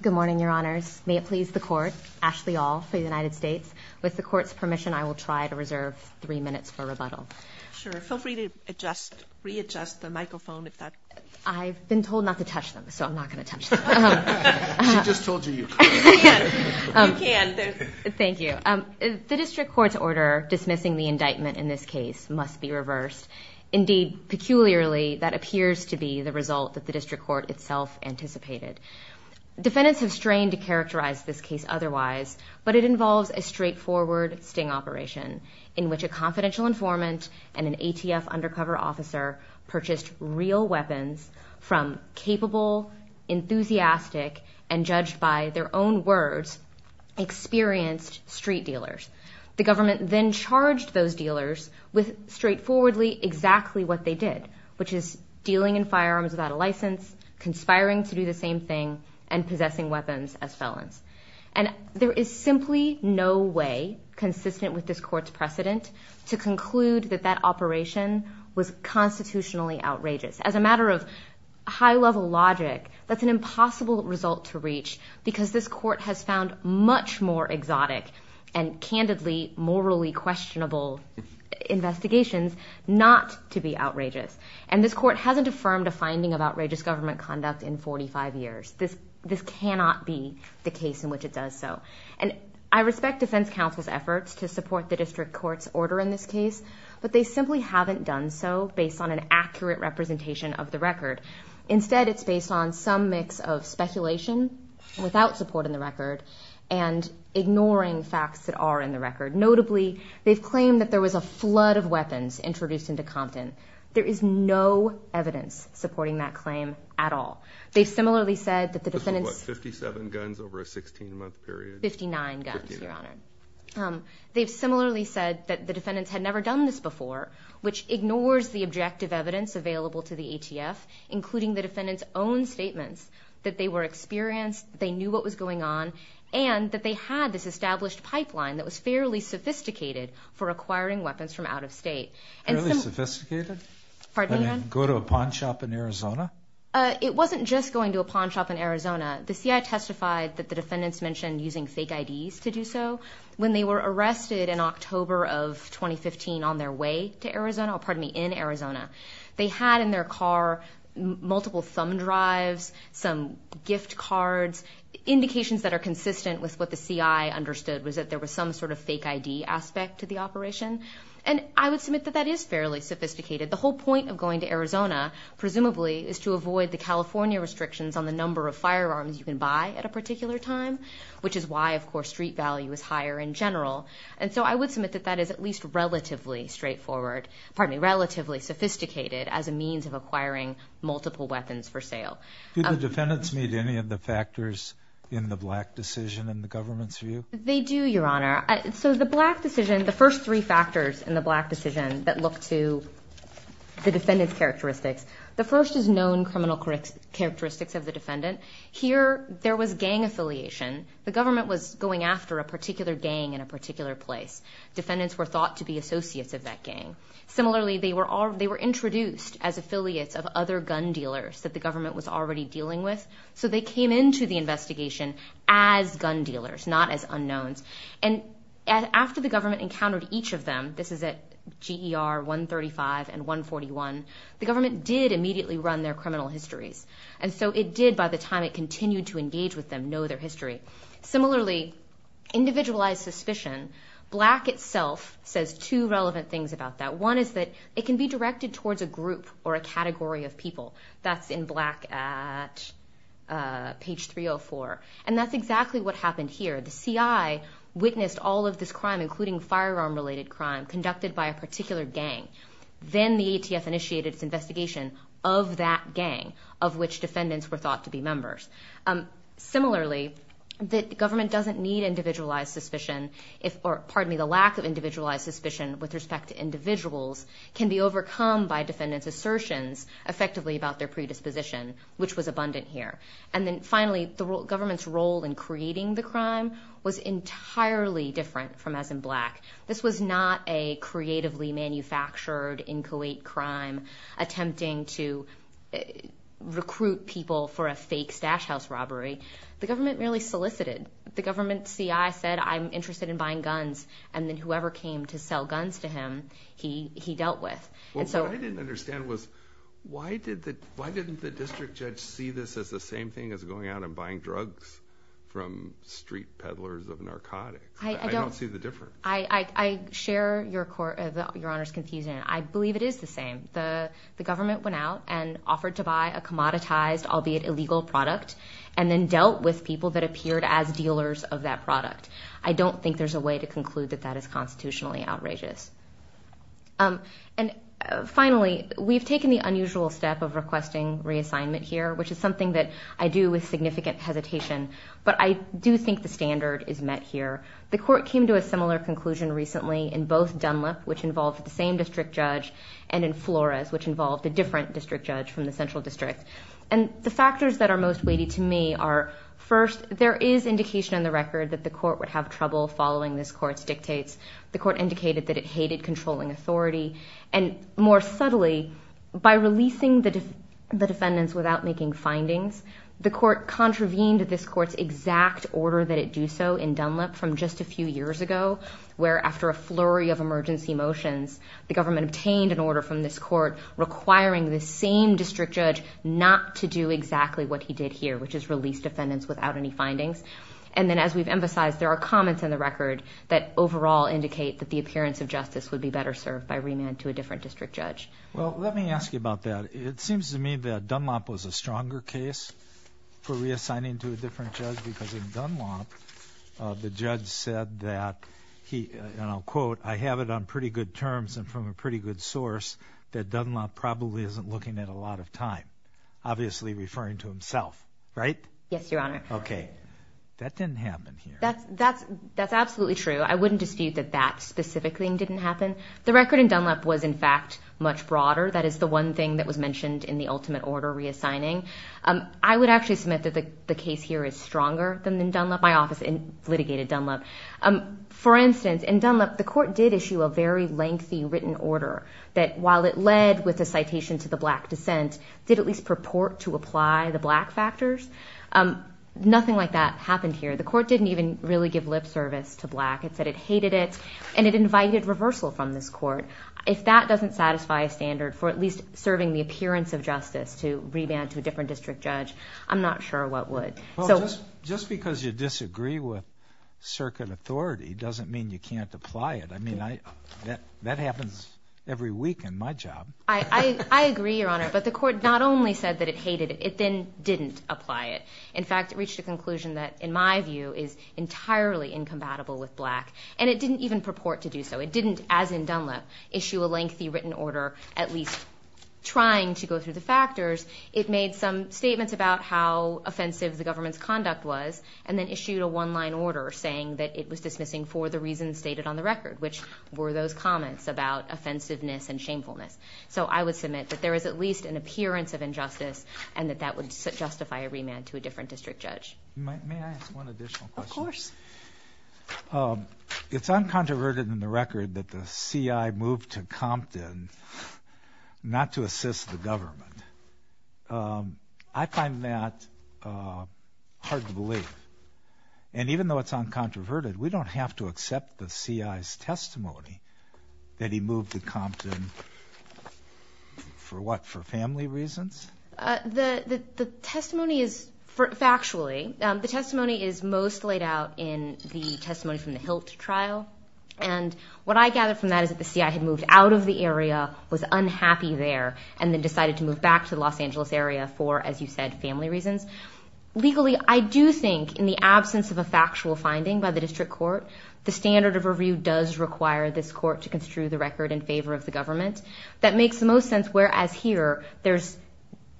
Good morning, Your Honors. May it please the Court, Ashley All for the United States. With the Court's permission, I will try to reserve three minutes for rebuttal. Sure. Feel free to adjust, readjust the microphone if that... I've been told not to touch them, so I'm not going to touch them. She just told you you could. You can. You can. Thank you. The District Court's order dismissing the indictment in this case must be reversed. Indeed, peculiarly, that appears to be the result that the District Court itself anticipated. Defendants have strained to characterize this case otherwise, but it involves a straightforward sting operation in which a confidential informant and an ATF undercover officer purchased real weapons from capable, enthusiastic, and judged by their own words, experienced street dealers. The government then charged those dealers with straightforwardly exactly what they did, which is dealing in firearms without a license, conspiring to do the same thing, and possessing weapons as felons. And there is simply no way consistent with this Court's precedent to conclude that that operation was constitutionally outrageous. As a matter of high-level logic, that's an impossible result to reach because this Court has found much more exotic and candidly morally questionable investigations not to be outrageous. And this Court hasn't affirmed a finding of outrageous government conduct in 45 years. This cannot be the case in which it does so. And I respect defense counsel's efforts to support the District Court's order in this case, but they simply haven't done so based on an accurate representation of the record. Instead, it's based on some mix of speculation without support in the record and ignoring facts that are in the record. Notably, they've claimed that there was a flood of weapons introduced into Compton. There is no evidence supporting that claim at all. They've similarly said that the defendants... This was, what, 57 guns over a 16-month period? Fifty-nine guns, Your Honor. They've similarly said that the defendants had never done this before, which ignores the objective evidence available to the ATF, including the defendants' own statements, that they were experienced, they knew what was going on, and that they had this established pipeline that was fairly sophisticated for acquiring weapons from out of state. Fairly sophisticated? Pardon me, Your Honor? Go to a pawn shop in Arizona? It wasn't just going to a pawn shop in Arizona. The CIA testified that the defendants mentioned using fake IDs to do so. When they were arrested in October of 2015 on their way to Arizona, pardon me, in Arizona, they had in their car multiple thumb drives, some gift cards, indications that are consistent with what the CIA understood was that there was some sort of fake ID aspect to the operation. And I would submit that that is fairly sophisticated. The whole point of going to Arizona, presumably, is to avoid the California restrictions on the number of firearms you can buy at a particular time, which is why, of course, street value is higher in general. And so I would submit that that is at least relatively straightforward. Pardon me, relatively sophisticated as a means of acquiring multiple weapons for sale. Did the defendants meet any of the factors in the Black decision in the government's view? They do, Your Honor. So the Black decision, the first three factors in the Black decision that look to the defendant's characteristics, the first is known criminal characteristics of the defendant. Here there was gang affiliation. The government was going after a particular gang in a particular place. Defendants were thought to be associates of that gang. Similarly, they were introduced as affiliates of other gun dealers that the government was already dealing with, so they came into the investigation as gun dealers, not as unknowns. And after the government encountered each of them, this is at GER 135 and 141, the government did immediately run their criminal histories. And so it did, by the time it continued to engage with them, know their history. Similarly, individualized suspicion, Black itself says two relevant things about that. One is that it can be directed towards a group or a category of people. That's in Black at page 304. And that's exactly what happened here. The CI witnessed all of this crime, including firearm-related crime, conducted by a particular gang. Then the ATF initiated its investigation of that gang, of which defendants were thought to be members. Similarly, the government doesn't need individualized suspicion, or pardon me, the lack of individualized suspicion with respect to individuals can be overcome by defendants' assertions effectively about their predisposition, which was abundant here. And then finally, the government's role in creating the crime was entirely different from as in Black. This was not a creatively manufactured, inchoate crime, attempting to recruit people for a fake stash house robbery. The government merely solicited. The government CI said, I'm interested in buying guns, and then whoever came to sell guns to him, he dealt with. What I didn't understand was why didn't the district judge see this as the same thing as going out and buying drugs from street peddlers of narcotics? I don't see the difference. I share Your Honor's confusion. I believe it is the same. The government went out and offered to buy a commoditized, albeit illegal product, and then dealt with people that appeared as dealers of that product. I don't think there's a way to conclude that that is constitutionally outrageous. And finally, we've taken the unusual step of requesting reassignment here, which is something that I do with significant hesitation, but I do think the standard is met here. The court came to a similar conclusion recently in both Dunlap, which involved the same district judge, and in Flores, which involved a different district judge from the central district. And the factors that are most weighty to me are, first, there is indication on the record that the court would have trouble following this court's dictates. The court indicated that it hated controlling authority. And more subtly, by releasing the defendants without making findings, the court contravened this court's exact order that it do so in Dunlap from just a few years ago, where after a flurry of emergency motions, the government obtained an order from this court requiring the same district judge not to do exactly what he did here, which is release defendants without any findings. And then, as we've emphasized, there are comments on the record that overall indicate that the appearance of justice would be better served by remand to a different district judge. Well, let me ask you about that. It seems to me that Dunlap was a stronger case for reassigning to a different judge because in Dunlap the judge said that, and I'll quote, I have it on pretty good terms and from a pretty good source that Dunlap probably isn't looking at a lot of time, obviously referring to himself, right? Yes, Your Honor. Okay. That didn't happen here. That's absolutely true. I wouldn't dispute that that specific thing didn't happen. The record in Dunlap was, in fact, much broader. That is the one thing that was mentioned in the ultimate order reassigning. I would actually submit that the case here is stronger than in Dunlap. My office litigated Dunlap. For instance, in Dunlap the court did issue a very lengthy written order that while it led with a citation to the black dissent, did at least purport to apply the black factors. Nothing like that happened here. The court didn't even really give lip service to black. It said it hated it, and it invited reversal from this court. If that doesn't satisfy a standard for at least serving the appearance of justice to remand to a different district judge, I'm not sure what would. Well, just because you disagree with circuit authority doesn't mean you can't apply it. I mean, that happens every week in my job. I agree, Your Honor, but the court not only said that it hated it, it then didn't apply it. In fact, it reached a conclusion that, in my view, is entirely incompatible with black, and it didn't even purport to do so. It didn't, as in Dunlap, issue a lengthy written order at least trying to go through the factors. It made some statements about how offensive the government's conduct was and then issued a one-line order saying that it was dismissing for the reasons stated on the record, which were those comments about offensiveness and shamefulness. So I would submit that there is at least an appearance of injustice and that that would justify a remand to a different district judge. May I ask one additional question? Of course. It's uncontroverted in the record that the CI moved to Compton not to assist the government. I find that hard to believe. And even though it's uncontroverted, we don't have to accept the CI's testimony that he moved to Compton for what, for family reasons? The testimony is, factually, the testimony is most laid out in the testimony from the HILT trial. And what I gather from that is that the CI had moved out of the area, was unhappy there, and then decided to move back to the Los Angeles area for, as you said, family reasons. Legally, I do think in the absence of a factual finding by the district court, the standard of review does require this court to construe the record in favor of the government. That makes the most sense, whereas here there's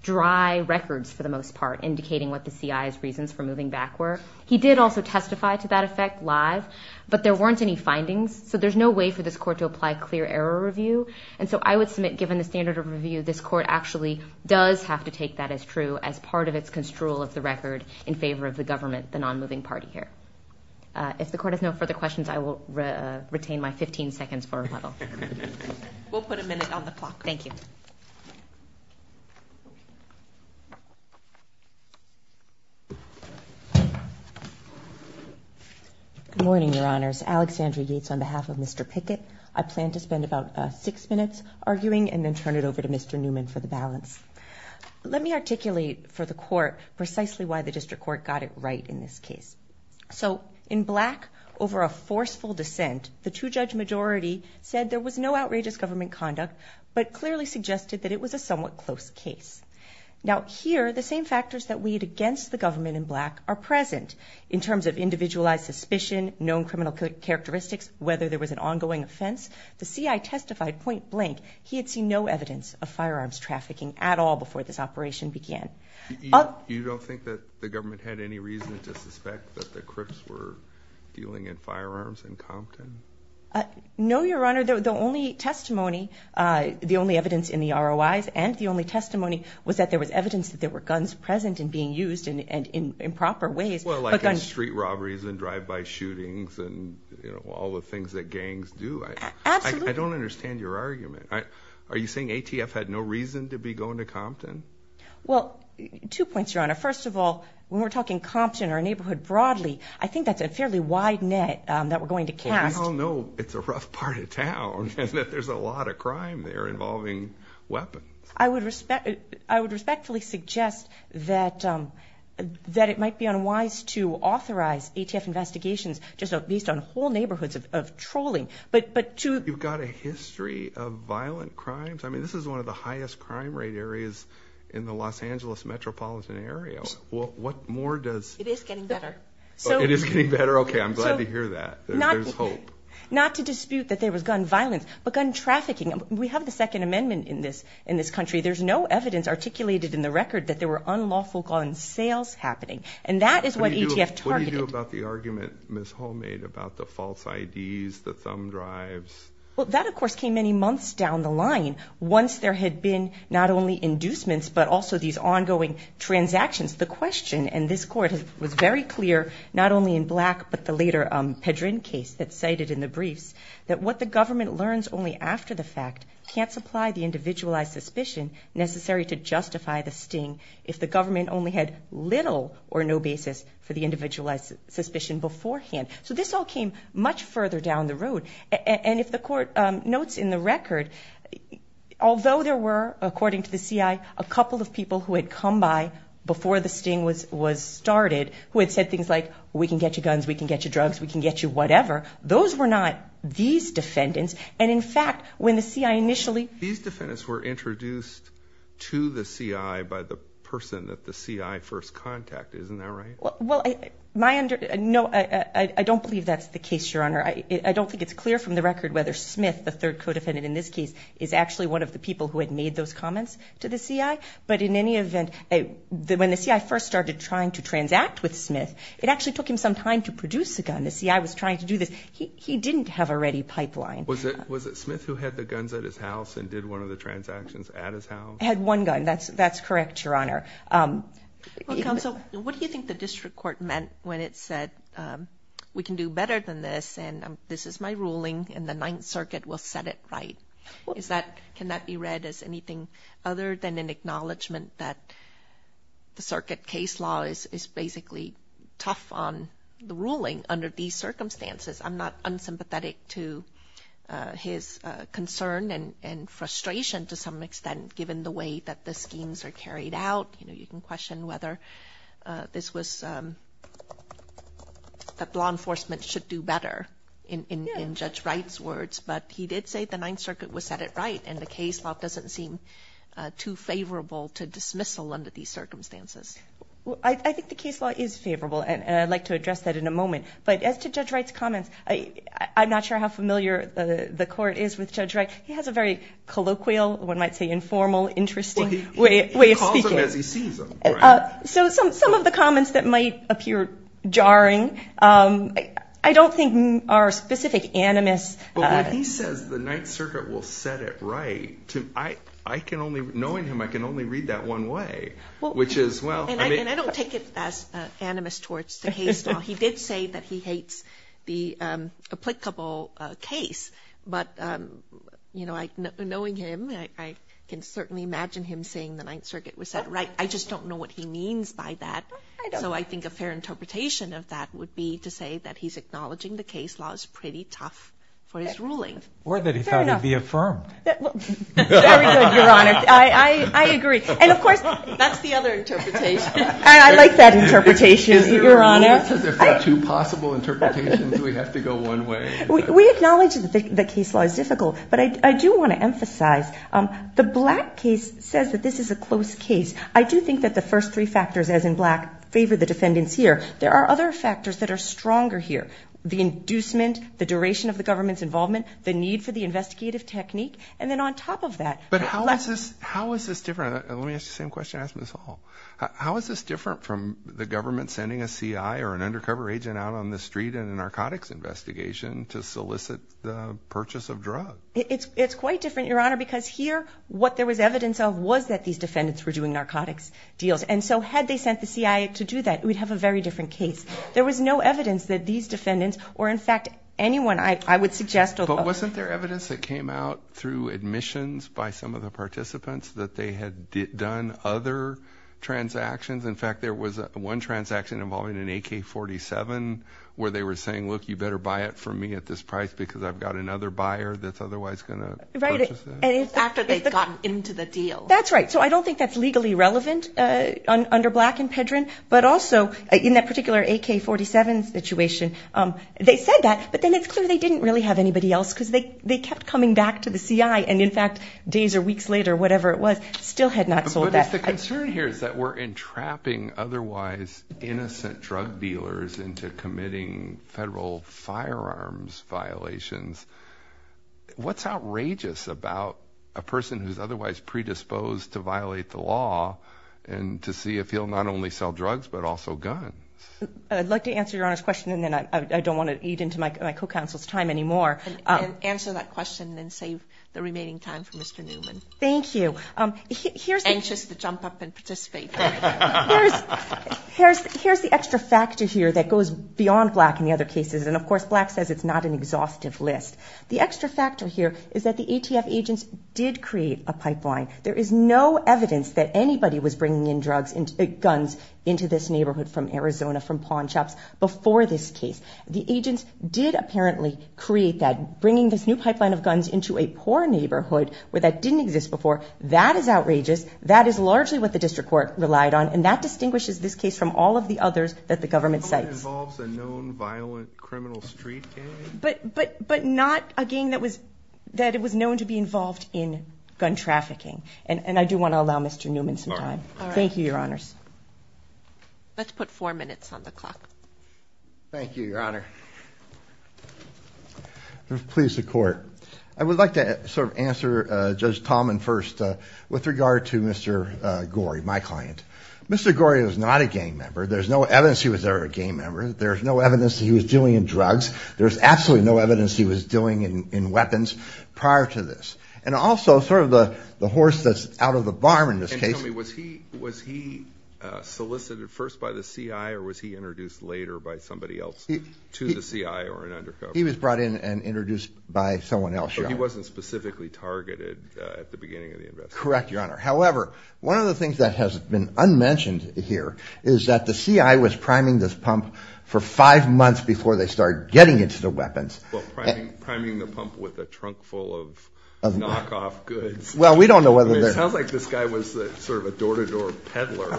dry records for the most part indicating what the CI's reasons for moving back were. He did also testify to that effect live, but there weren't any findings, so there's no way for this court to apply clear error review. And so I would submit, given the standard of review, this court actually does have to take that as true as part of its construal of the record in favor of the government, the non-moving party here. If the court has no further questions, I will retain my 15 seconds for rebuttal. We'll put a minute on the clock. Thank you. Good morning, Your Honors. Alexandra Yates on behalf of Mr. Pickett. I plan to spend about six minutes arguing and then turn it over to Mr. Newman for the balance. Let me articulate for the court precisely why the district court got it right in this case. So in black over a forceful dissent, the two-judge majority said there was no outrageous government conduct but clearly suggested that it was a somewhat close case. Now here, the same factors that we'd against the government in black are present in terms of individualized suspicion, known criminal characteristics, whether there was an ongoing offense. The CI testified point blank he had seen no evidence of firearms trafficking at all before this operation began. You don't think that the government had any reason to suspect that the Crips were dealing in firearms in Compton? No, Your Honor. The only testimony, the only evidence in the ROIs and the only testimony was that there was evidence that there were guns present and being used in improper ways. Well, like in street robberies and drive-by shootings and, you know, all the things that gangs do. Absolutely. I don't understand your argument. Are you saying ATF had no reason to be going to Compton? Well, two points, Your Honor. First of all, when we're talking Compton or a neighborhood broadly, I think that's a fairly wide net that we're going to cast. Well, we all know it's a rough part of town and that there's a lot of crime there involving weapons. I would respectfully suggest that it might be unwise to authorize ATF investigations just based on whole neighborhoods of trolling. You've got a history of violent crimes? I mean, this is one of the highest crime rate areas in the Los Angeles metropolitan area. What more does? It is getting better. It is getting better? Okay, I'm glad to hear that. There's hope. Not to dispute that there was gun violence, but gun trafficking. We have the Second Amendment in this country. There's no evidence articulated in the record that there were unlawful gun sales happening. And that is what ATF targeted. What do you do about the argument Ms. Hall made about the false IDs, the thumb drives? Well, that, of course, came many months down the line once there had been not only inducements but also these ongoing transactions. The question in this court was very clear not only in Black but the later Pedrin case that's cited in the briefs that what the government learns only after the fact can't supply the individualized suspicion necessary to justify the sting if the government only had little or no basis for the individualized suspicion beforehand. So this all came much further down the road. And if the court notes in the record, although there were, according to the CI, a couple of people who had come by before the sting was started who had said things like, we can get you guns, we can get you drugs, we can get you whatever, those were not these defendants. And, in fact, when the CI initially These defendants were introduced to the CI by the person that the CI first contacted. Isn't that right? Well, I don't believe that's the case, Your Honor. I don't think it's clear from the record whether Smith, the third co-defendant in this case, is actually one of the people who had made those comments to the CI. But in any event, when the CI first started trying to transact with Smith, it actually took him some time to produce a gun. The CI was trying to do this. He didn't have a ready pipeline. Was it Smith who had the guns at his house and did one of the transactions at his house? Had one gun. That's correct, Your Honor. Well, Counsel, what do you think the district court meant when it said, we can do better than this, and this is my ruling, and the Ninth Circuit will set it right? Can that be read as anything other than an acknowledgment that the circuit case law is basically tough on the ruling under these circumstances? I'm not unsympathetic to his concern and frustration, to some extent, given the way that the schemes are carried out. You can question whether this was that law enforcement should do better in Judge Wright's words. But he did say the Ninth Circuit would set it right, and the case law doesn't seem too favorable to dismissal under these circumstances. I think the case law is favorable, and I'd like to address that in a moment. But as to Judge Wright's comments, I'm not sure how familiar the court is with Judge Wright. He has a very colloquial, one might say informal, interesting way of speaking. He calls them as he sees them. So some of the comments that might appear jarring, I don't think are specific animus. But when he says the Ninth Circuit will set it right, knowing him, I can only read that one way, which is, well. And I don't take it as animus towards the case law. He did say that he hates the applicable case. But knowing him, I can certainly imagine him saying the Ninth Circuit was set right. I just don't know what he means by that. So I think a fair interpretation of that would be to say that he's acknowledging the case law is pretty tough for his ruling. Or that he thought it would be affirmed. Fair enough. Very good, Your Honor. I agree. And, of course, that's the other interpretation. I like that interpretation, Your Honor. If there are two possible interpretations, we have to go one way. We acknowledge that the case law is difficult, but I do want to emphasize the black case says that this is a close case. I do think that the first three factors, as in black, favor the defendants here. There are other factors that are stronger here. The inducement, the duration of the government's involvement, the need for the investigative technique, and then on top of that. But how is this different? Let me ask you the same question I asked Ms. Hall. How is this different from the government sending a C.I. or an undercover agent out on the street in a narcotics investigation to solicit the purchase of drugs? It's quite different, Your Honor, because here what there was evidence of was that these defendants were doing narcotics deals. And so had they sent the C.I. to do that, we'd have a very different case. There was no evidence that these defendants or, in fact, anyone I would suggest. But wasn't there evidence that came out through admissions by some of the participants that they had done other transactions? In fact, there was one transaction involving an AK-47 where they were saying, look, you better buy it from me at this price because I've got another buyer that's otherwise going to purchase that. After they'd gotten into the deal. That's right. So I don't think that's legally relevant under Black and Pedrin. But also in that particular AK-47 situation, they said that, but then it's clear they didn't really have anybody else because they kept coming back to the C.I. And, in fact, days or weeks later, whatever it was, still had not sold that. But if the concern here is that we're entrapping otherwise innocent drug dealers into committing federal firearms violations, what's outrageous about a person who's otherwise predisposed to violate the law and to see if he'll not only sell drugs but also guns? I'd like to answer Your Honor's question, and then I don't want to eat into my co-counsel's time anymore. Answer that question and then save the remaining time for Mr. Newman. Thank you. I'm anxious to jump up and participate. Here's the extra factor here that goes beyond Black in the other cases. And, of course, Black says it's not an exhaustive list. The extra factor here is that the ATF agents did create a pipeline. There is no evidence that anybody was bringing in guns into this neighborhood from Arizona, from pawn shops, before this case. The agents did apparently create that, bringing this new pipeline of guns into a poor neighborhood where that didn't exist before. That is outrageous. That is largely what the district court relied on. And that distinguishes this case from all of the others that the government cites. It involves a known violent criminal street gang? But not a gang that was known to be involved in gun trafficking. And I do want to allow Mr. Newman some time. All right. Thank you, Your Honors. Let's put four minutes on the clock. Thank you, Your Honor. Please, the court. I would like to sort of answer Judge Tallman first with regard to Mr. Gorey, my client. Mr. Gorey was not a gang member. There's no evidence he was ever a gang member. There's no evidence he was dealing in drugs. There's absolutely no evidence he was dealing in weapons prior to this. And also, sort of the horse that's out of the barn in this case. Can you tell me, was he solicited first by the CI or was he introduced later by somebody else to the CI or an undercover? He was brought in and introduced by someone else, Your Honor. But he wasn't specifically targeted at the beginning of the investigation? Correct, Your Honor. However, one of the things that has been unmentioned here is that the CI was priming this pump for five months before they started getting into the weapons. Well, priming the pump with a trunk full of knockoff goods. Well, we don't know whether they're – It sounds like this guy was sort of a door-to-door peddler,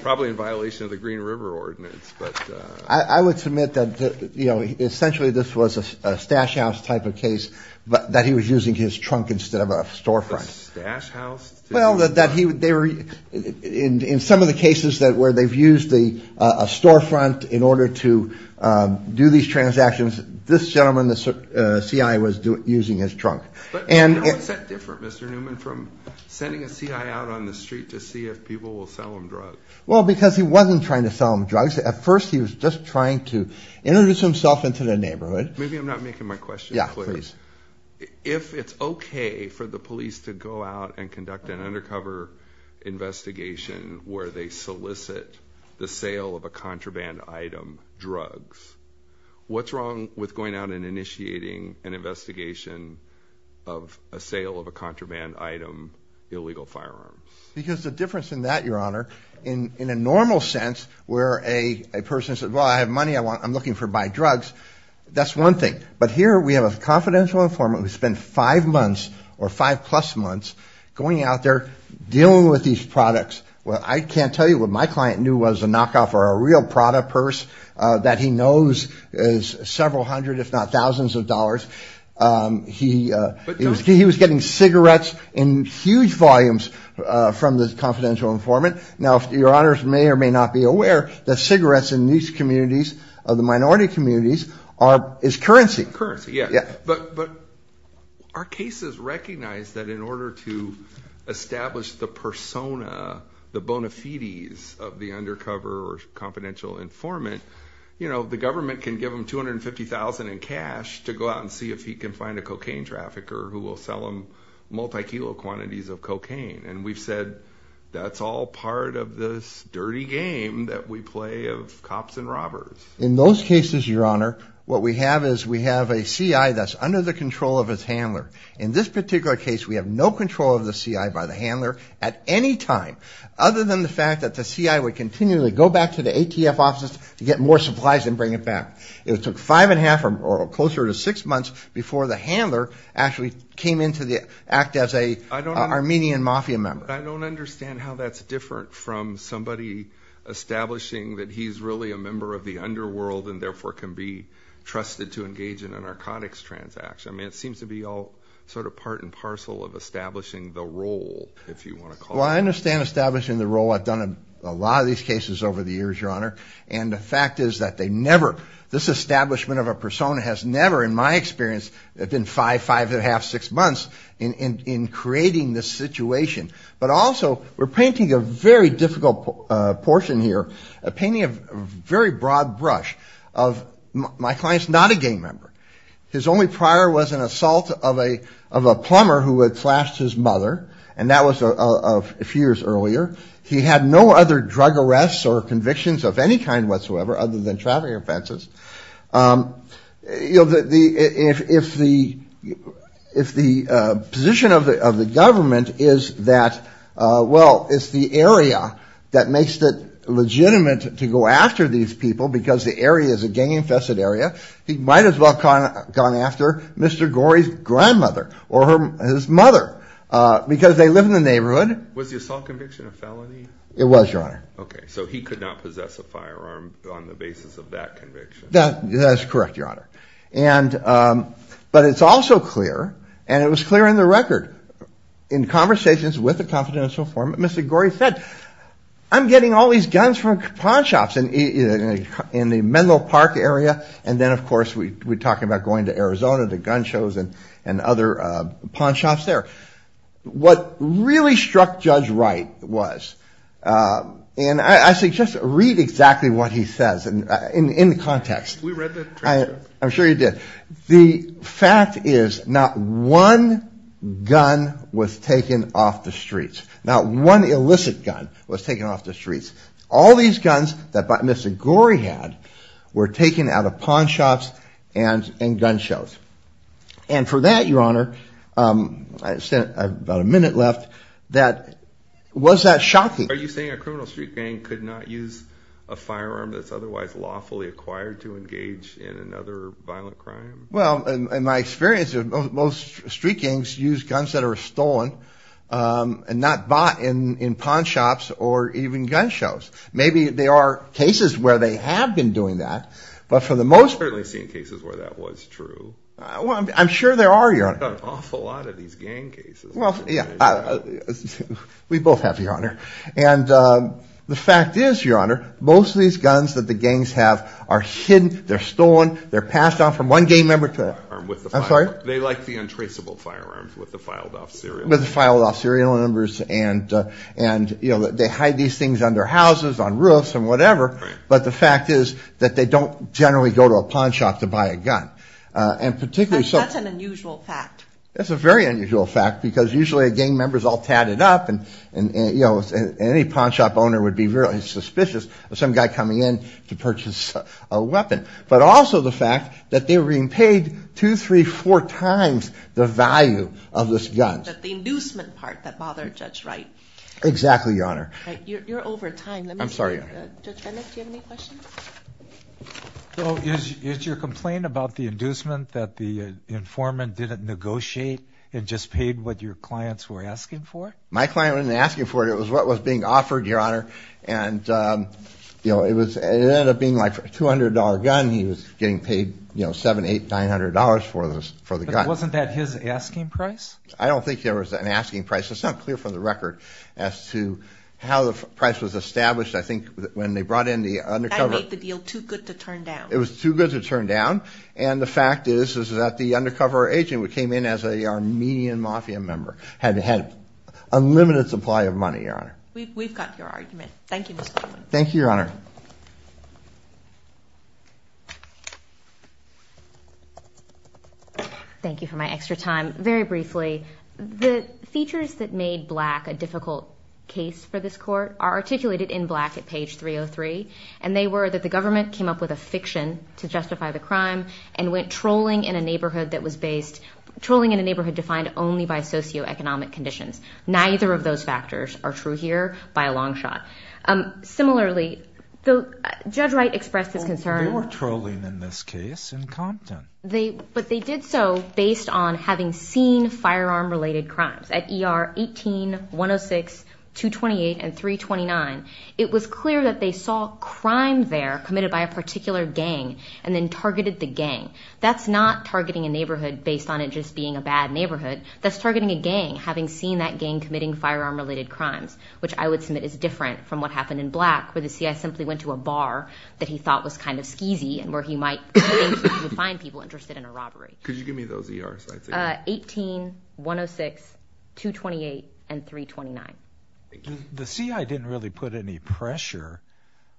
probably in violation of the Green River Ordinance. I would submit that essentially this was a stash house type of case, but that he was using his trunk instead of a storefront. A stash house? Well, in some of the cases where they've used a storefront in order to do these transactions, this gentleman, the CI, was using his trunk. But how is that different, Mr. Newman, from sending a CI out on the street to see if people will sell him drugs? Well, because he wasn't trying to sell him drugs. At first, he was just trying to introduce himself into the neighborhood. Maybe I'm not making my question clear. Yeah, please. If it's okay for the police to go out and conduct an undercover investigation where they solicit the sale of a contraband item, drugs, what's wrong with going out and initiating an investigation of a sale of a contraband item, illegal firearms? Because the difference in that, Your Honor, in a normal sense where a person says, well, I have money, I'm looking to buy drugs, that's one thing. But here we have a confidential informant who spent five months or five-plus months going out there, dealing with these products. Well, I can't tell you what my client knew was a knockoff or a real Prada purse that he knows is several hundred if not thousands of dollars. He was getting cigarettes in huge volumes from this confidential informant. Now, Your Honors may or may not be aware that cigarettes in these communities, the minority communities, is currency. Currency, yeah. But our cases recognize that in order to establish the persona, the bona fides of the undercover or confidential informant, the government can give them $250,000 in cash to go out and see if he can find a cocaine trafficker who will sell them multi-kilo quantities of cocaine. And we've said that's all part of this dirty game that we play of cops and robbers. In those cases, Your Honor, what we have is we have a C.I. that's under the control of his handler. In this particular case, we have no control of the C.I. by the handler at any time, other than the fact that the C.I. would continually go back to the ATF offices to get more supplies and bring it back. It took five and a half or closer to six months before the handler actually came in to act as an Armenian mafia member. But I don't understand how that's different from somebody establishing that he's really a member of the underworld and therefore can be trusted to engage in a narcotics transaction. I mean, it seems to be all sort of part and parcel of establishing the role, if you want to call it that. Well, I understand establishing the role. I've done a lot of these cases over the years, Your Honor. And the fact is that they never – this establishment of a persona has never, in my experience, been five, five and a half, six months in creating this situation. But also we're painting a very difficult portion here, painting a very broad brush of my client's not a gang member. His only prior was an assault of a plumber who had slashed his mother. And that was a few years earlier. He had no other drug arrests or convictions of any kind whatsoever, other than traffic offenses. If the position of the government is that, well, it's the area that makes it legitimate to go after these people because the area is a gang-infested area, he might as well have gone after Mr. Gorey's grandmother or his mother because they live in the neighborhood. Was the assault conviction a felony? It was, Your Honor. Okay. So he could not possess a firearm on the basis of that conviction. That's correct, Your Honor. But it's also clear, and it was clear in the record, in conversations with the confidential form, Mr. Gorey said, I'm getting all these guns from pawn shops in the Menlo Park area. And then, of course, we're talking about going to Arizona to gun shows and other pawn shops there. What really struck Judge Wright was, and I suggest read exactly what he says in the context. We read the transcript. I'm sure you did. The fact is not one gun was taken off the streets. Not one illicit gun was taken off the streets. All these guns that Mr. Gorey had were taken out of pawn shops and gun shows. And for that, Your Honor, I have about a minute left, was that shocking? Are you saying a criminal street gang could not use a firearm that's otherwise lawfully acquired to engage in another violent crime? Well, in my experience, most street gangs use guns that are stolen and not bought in pawn shops or even gun shows. Maybe there are cases where they have been doing that. I've certainly seen cases where that was true. Well, I'm sure there are, Your Honor. We've got an awful lot of these gang cases. We both have, Your Honor. And the fact is, Your Honor, most of these guns that the gangs have are hidden, they're stolen, they're passed on from one gang member to the other. They like the untraceable firearms with the filed-off serial numbers. With the filed-off serial numbers, and they hide these things under houses, on roofs, and whatever. But the fact is that they don't generally go to a pawn shop to buy a gun. That's an unusual fact. It's a very unusual fact, because usually a gang member is all tatted up, and any pawn shop owner would be really suspicious of some guy coming in to purchase a weapon. But also the fact that they were being paid two, three, four times the value of this gun. The inducement part that bothered Judge Wright. Exactly, Your Honor. You're over time. I'm sorry, Your Honor. Judge Rennick, do you have any questions? So is your complaint about the inducement that the informant didn't negotiate and just paid what your clients were asking for? My client wasn't asking for it, it was what was being offered, Your Honor. And it ended up being a $200 gun, he was getting paid $700, $800, $900 for the gun. But wasn't that his asking price? I don't think there was an asking price. It's not clear from the record as to how the price was established. I think when they brought in the undercover... That made the deal too good to turn down. It was too good to turn down. And the fact is that the undercover agent who came in as an Armenian Mafia member had an unlimited supply of money, Your Honor. We've got your argument. Thank you, Mr. Newman. Thank you, Your Honor. Thank you for my extra time. Very briefly, the features that made Black a difficult case for this court are articulated in Black at page 303. And they were that the government came up with a fiction to justify the crime and went trolling in a neighborhood that was based... trolling in a neighborhood defined only by socioeconomic conditions. Neither of those factors are true here by a long shot. Similarly, Judge Wright expressed his concern... They were trolling in this case in Compton. But they did so based on having seen firearm-related crimes. At ER 18, 106, 228, and 329, it was clear that they saw crime there committed by a particular gang and then targeted the gang. That's not targeting a neighborhood based on it just being a bad neighborhood. That's targeting a gang, having seen that gang committing firearm-related crimes, which I would submit is different from what happened in Black, where the C.I. simply went to a bar that he thought was kind of skeezy and where he might find people interested in a robbery. Could you give me those ER sites again? 18, 106, 228, and 329. The C.I. didn't really put any pressure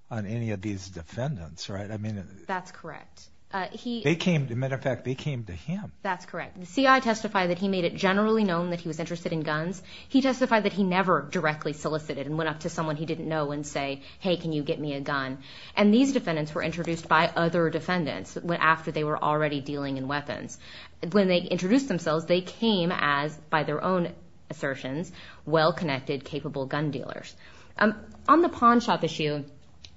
on any of these defendants, right? That's correct. They came, as a matter of fact, they came to him. That's correct. The C.I. testified that he made it generally known that he was interested in guns. He testified that he never directly solicited and went up to someone he didn't know and say, hey, can you get me a gun? And these defendants were introduced by other defendants after they were already dealing in weapons. When they introduced themselves, they came as, by their own assertions, well-connected, capable gun dealers. On the pawn shop issue,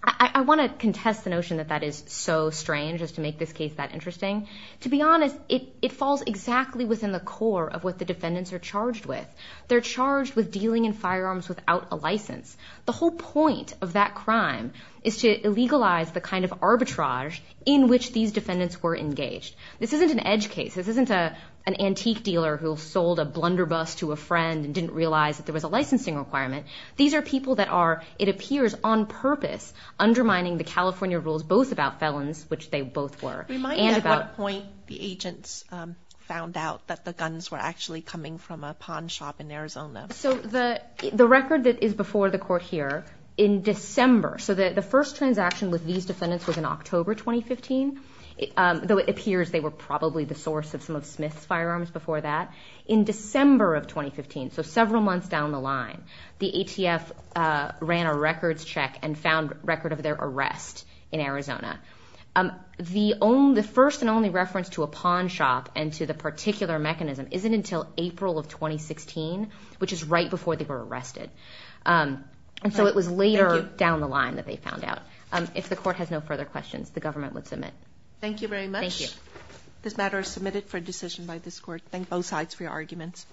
I want to contest the notion that that is so strange, just to make this case that interesting. To be honest, it falls exactly within the core of what the defendants are charged with. They're charged with dealing in firearms without a license. The whole point of that crime is to illegalize the kind of arbitrage in which these defendants were engaged. This isn't an edge case. This isn't an antique dealer who sold a blunderbuss to a friend and didn't realize that there was a licensing requirement. These are people that are, it appears, on purpose, undermining the California rules, both about felons, which they both were. Remind me at what point the agents found out that the guns were actually coming from a pawn shop in Arizona. The record that is before the court here, in December, so the first transaction with these defendants was in October 2015, though it appears they were probably the source of some of Smith's firearms before that. In December of 2015, so several months down the line, the ATF ran a records check and found record of their arrest in Arizona. The first and only reference to a pawn shop and to the particular mechanism isn't until April of 2016, which is right before they were arrested. And so it was later down the line that they found out. If the court has no further questions, the government would submit. Thank you very much. Thank you. This matter is submitted for decision by this court. Thank both sides for your arguments.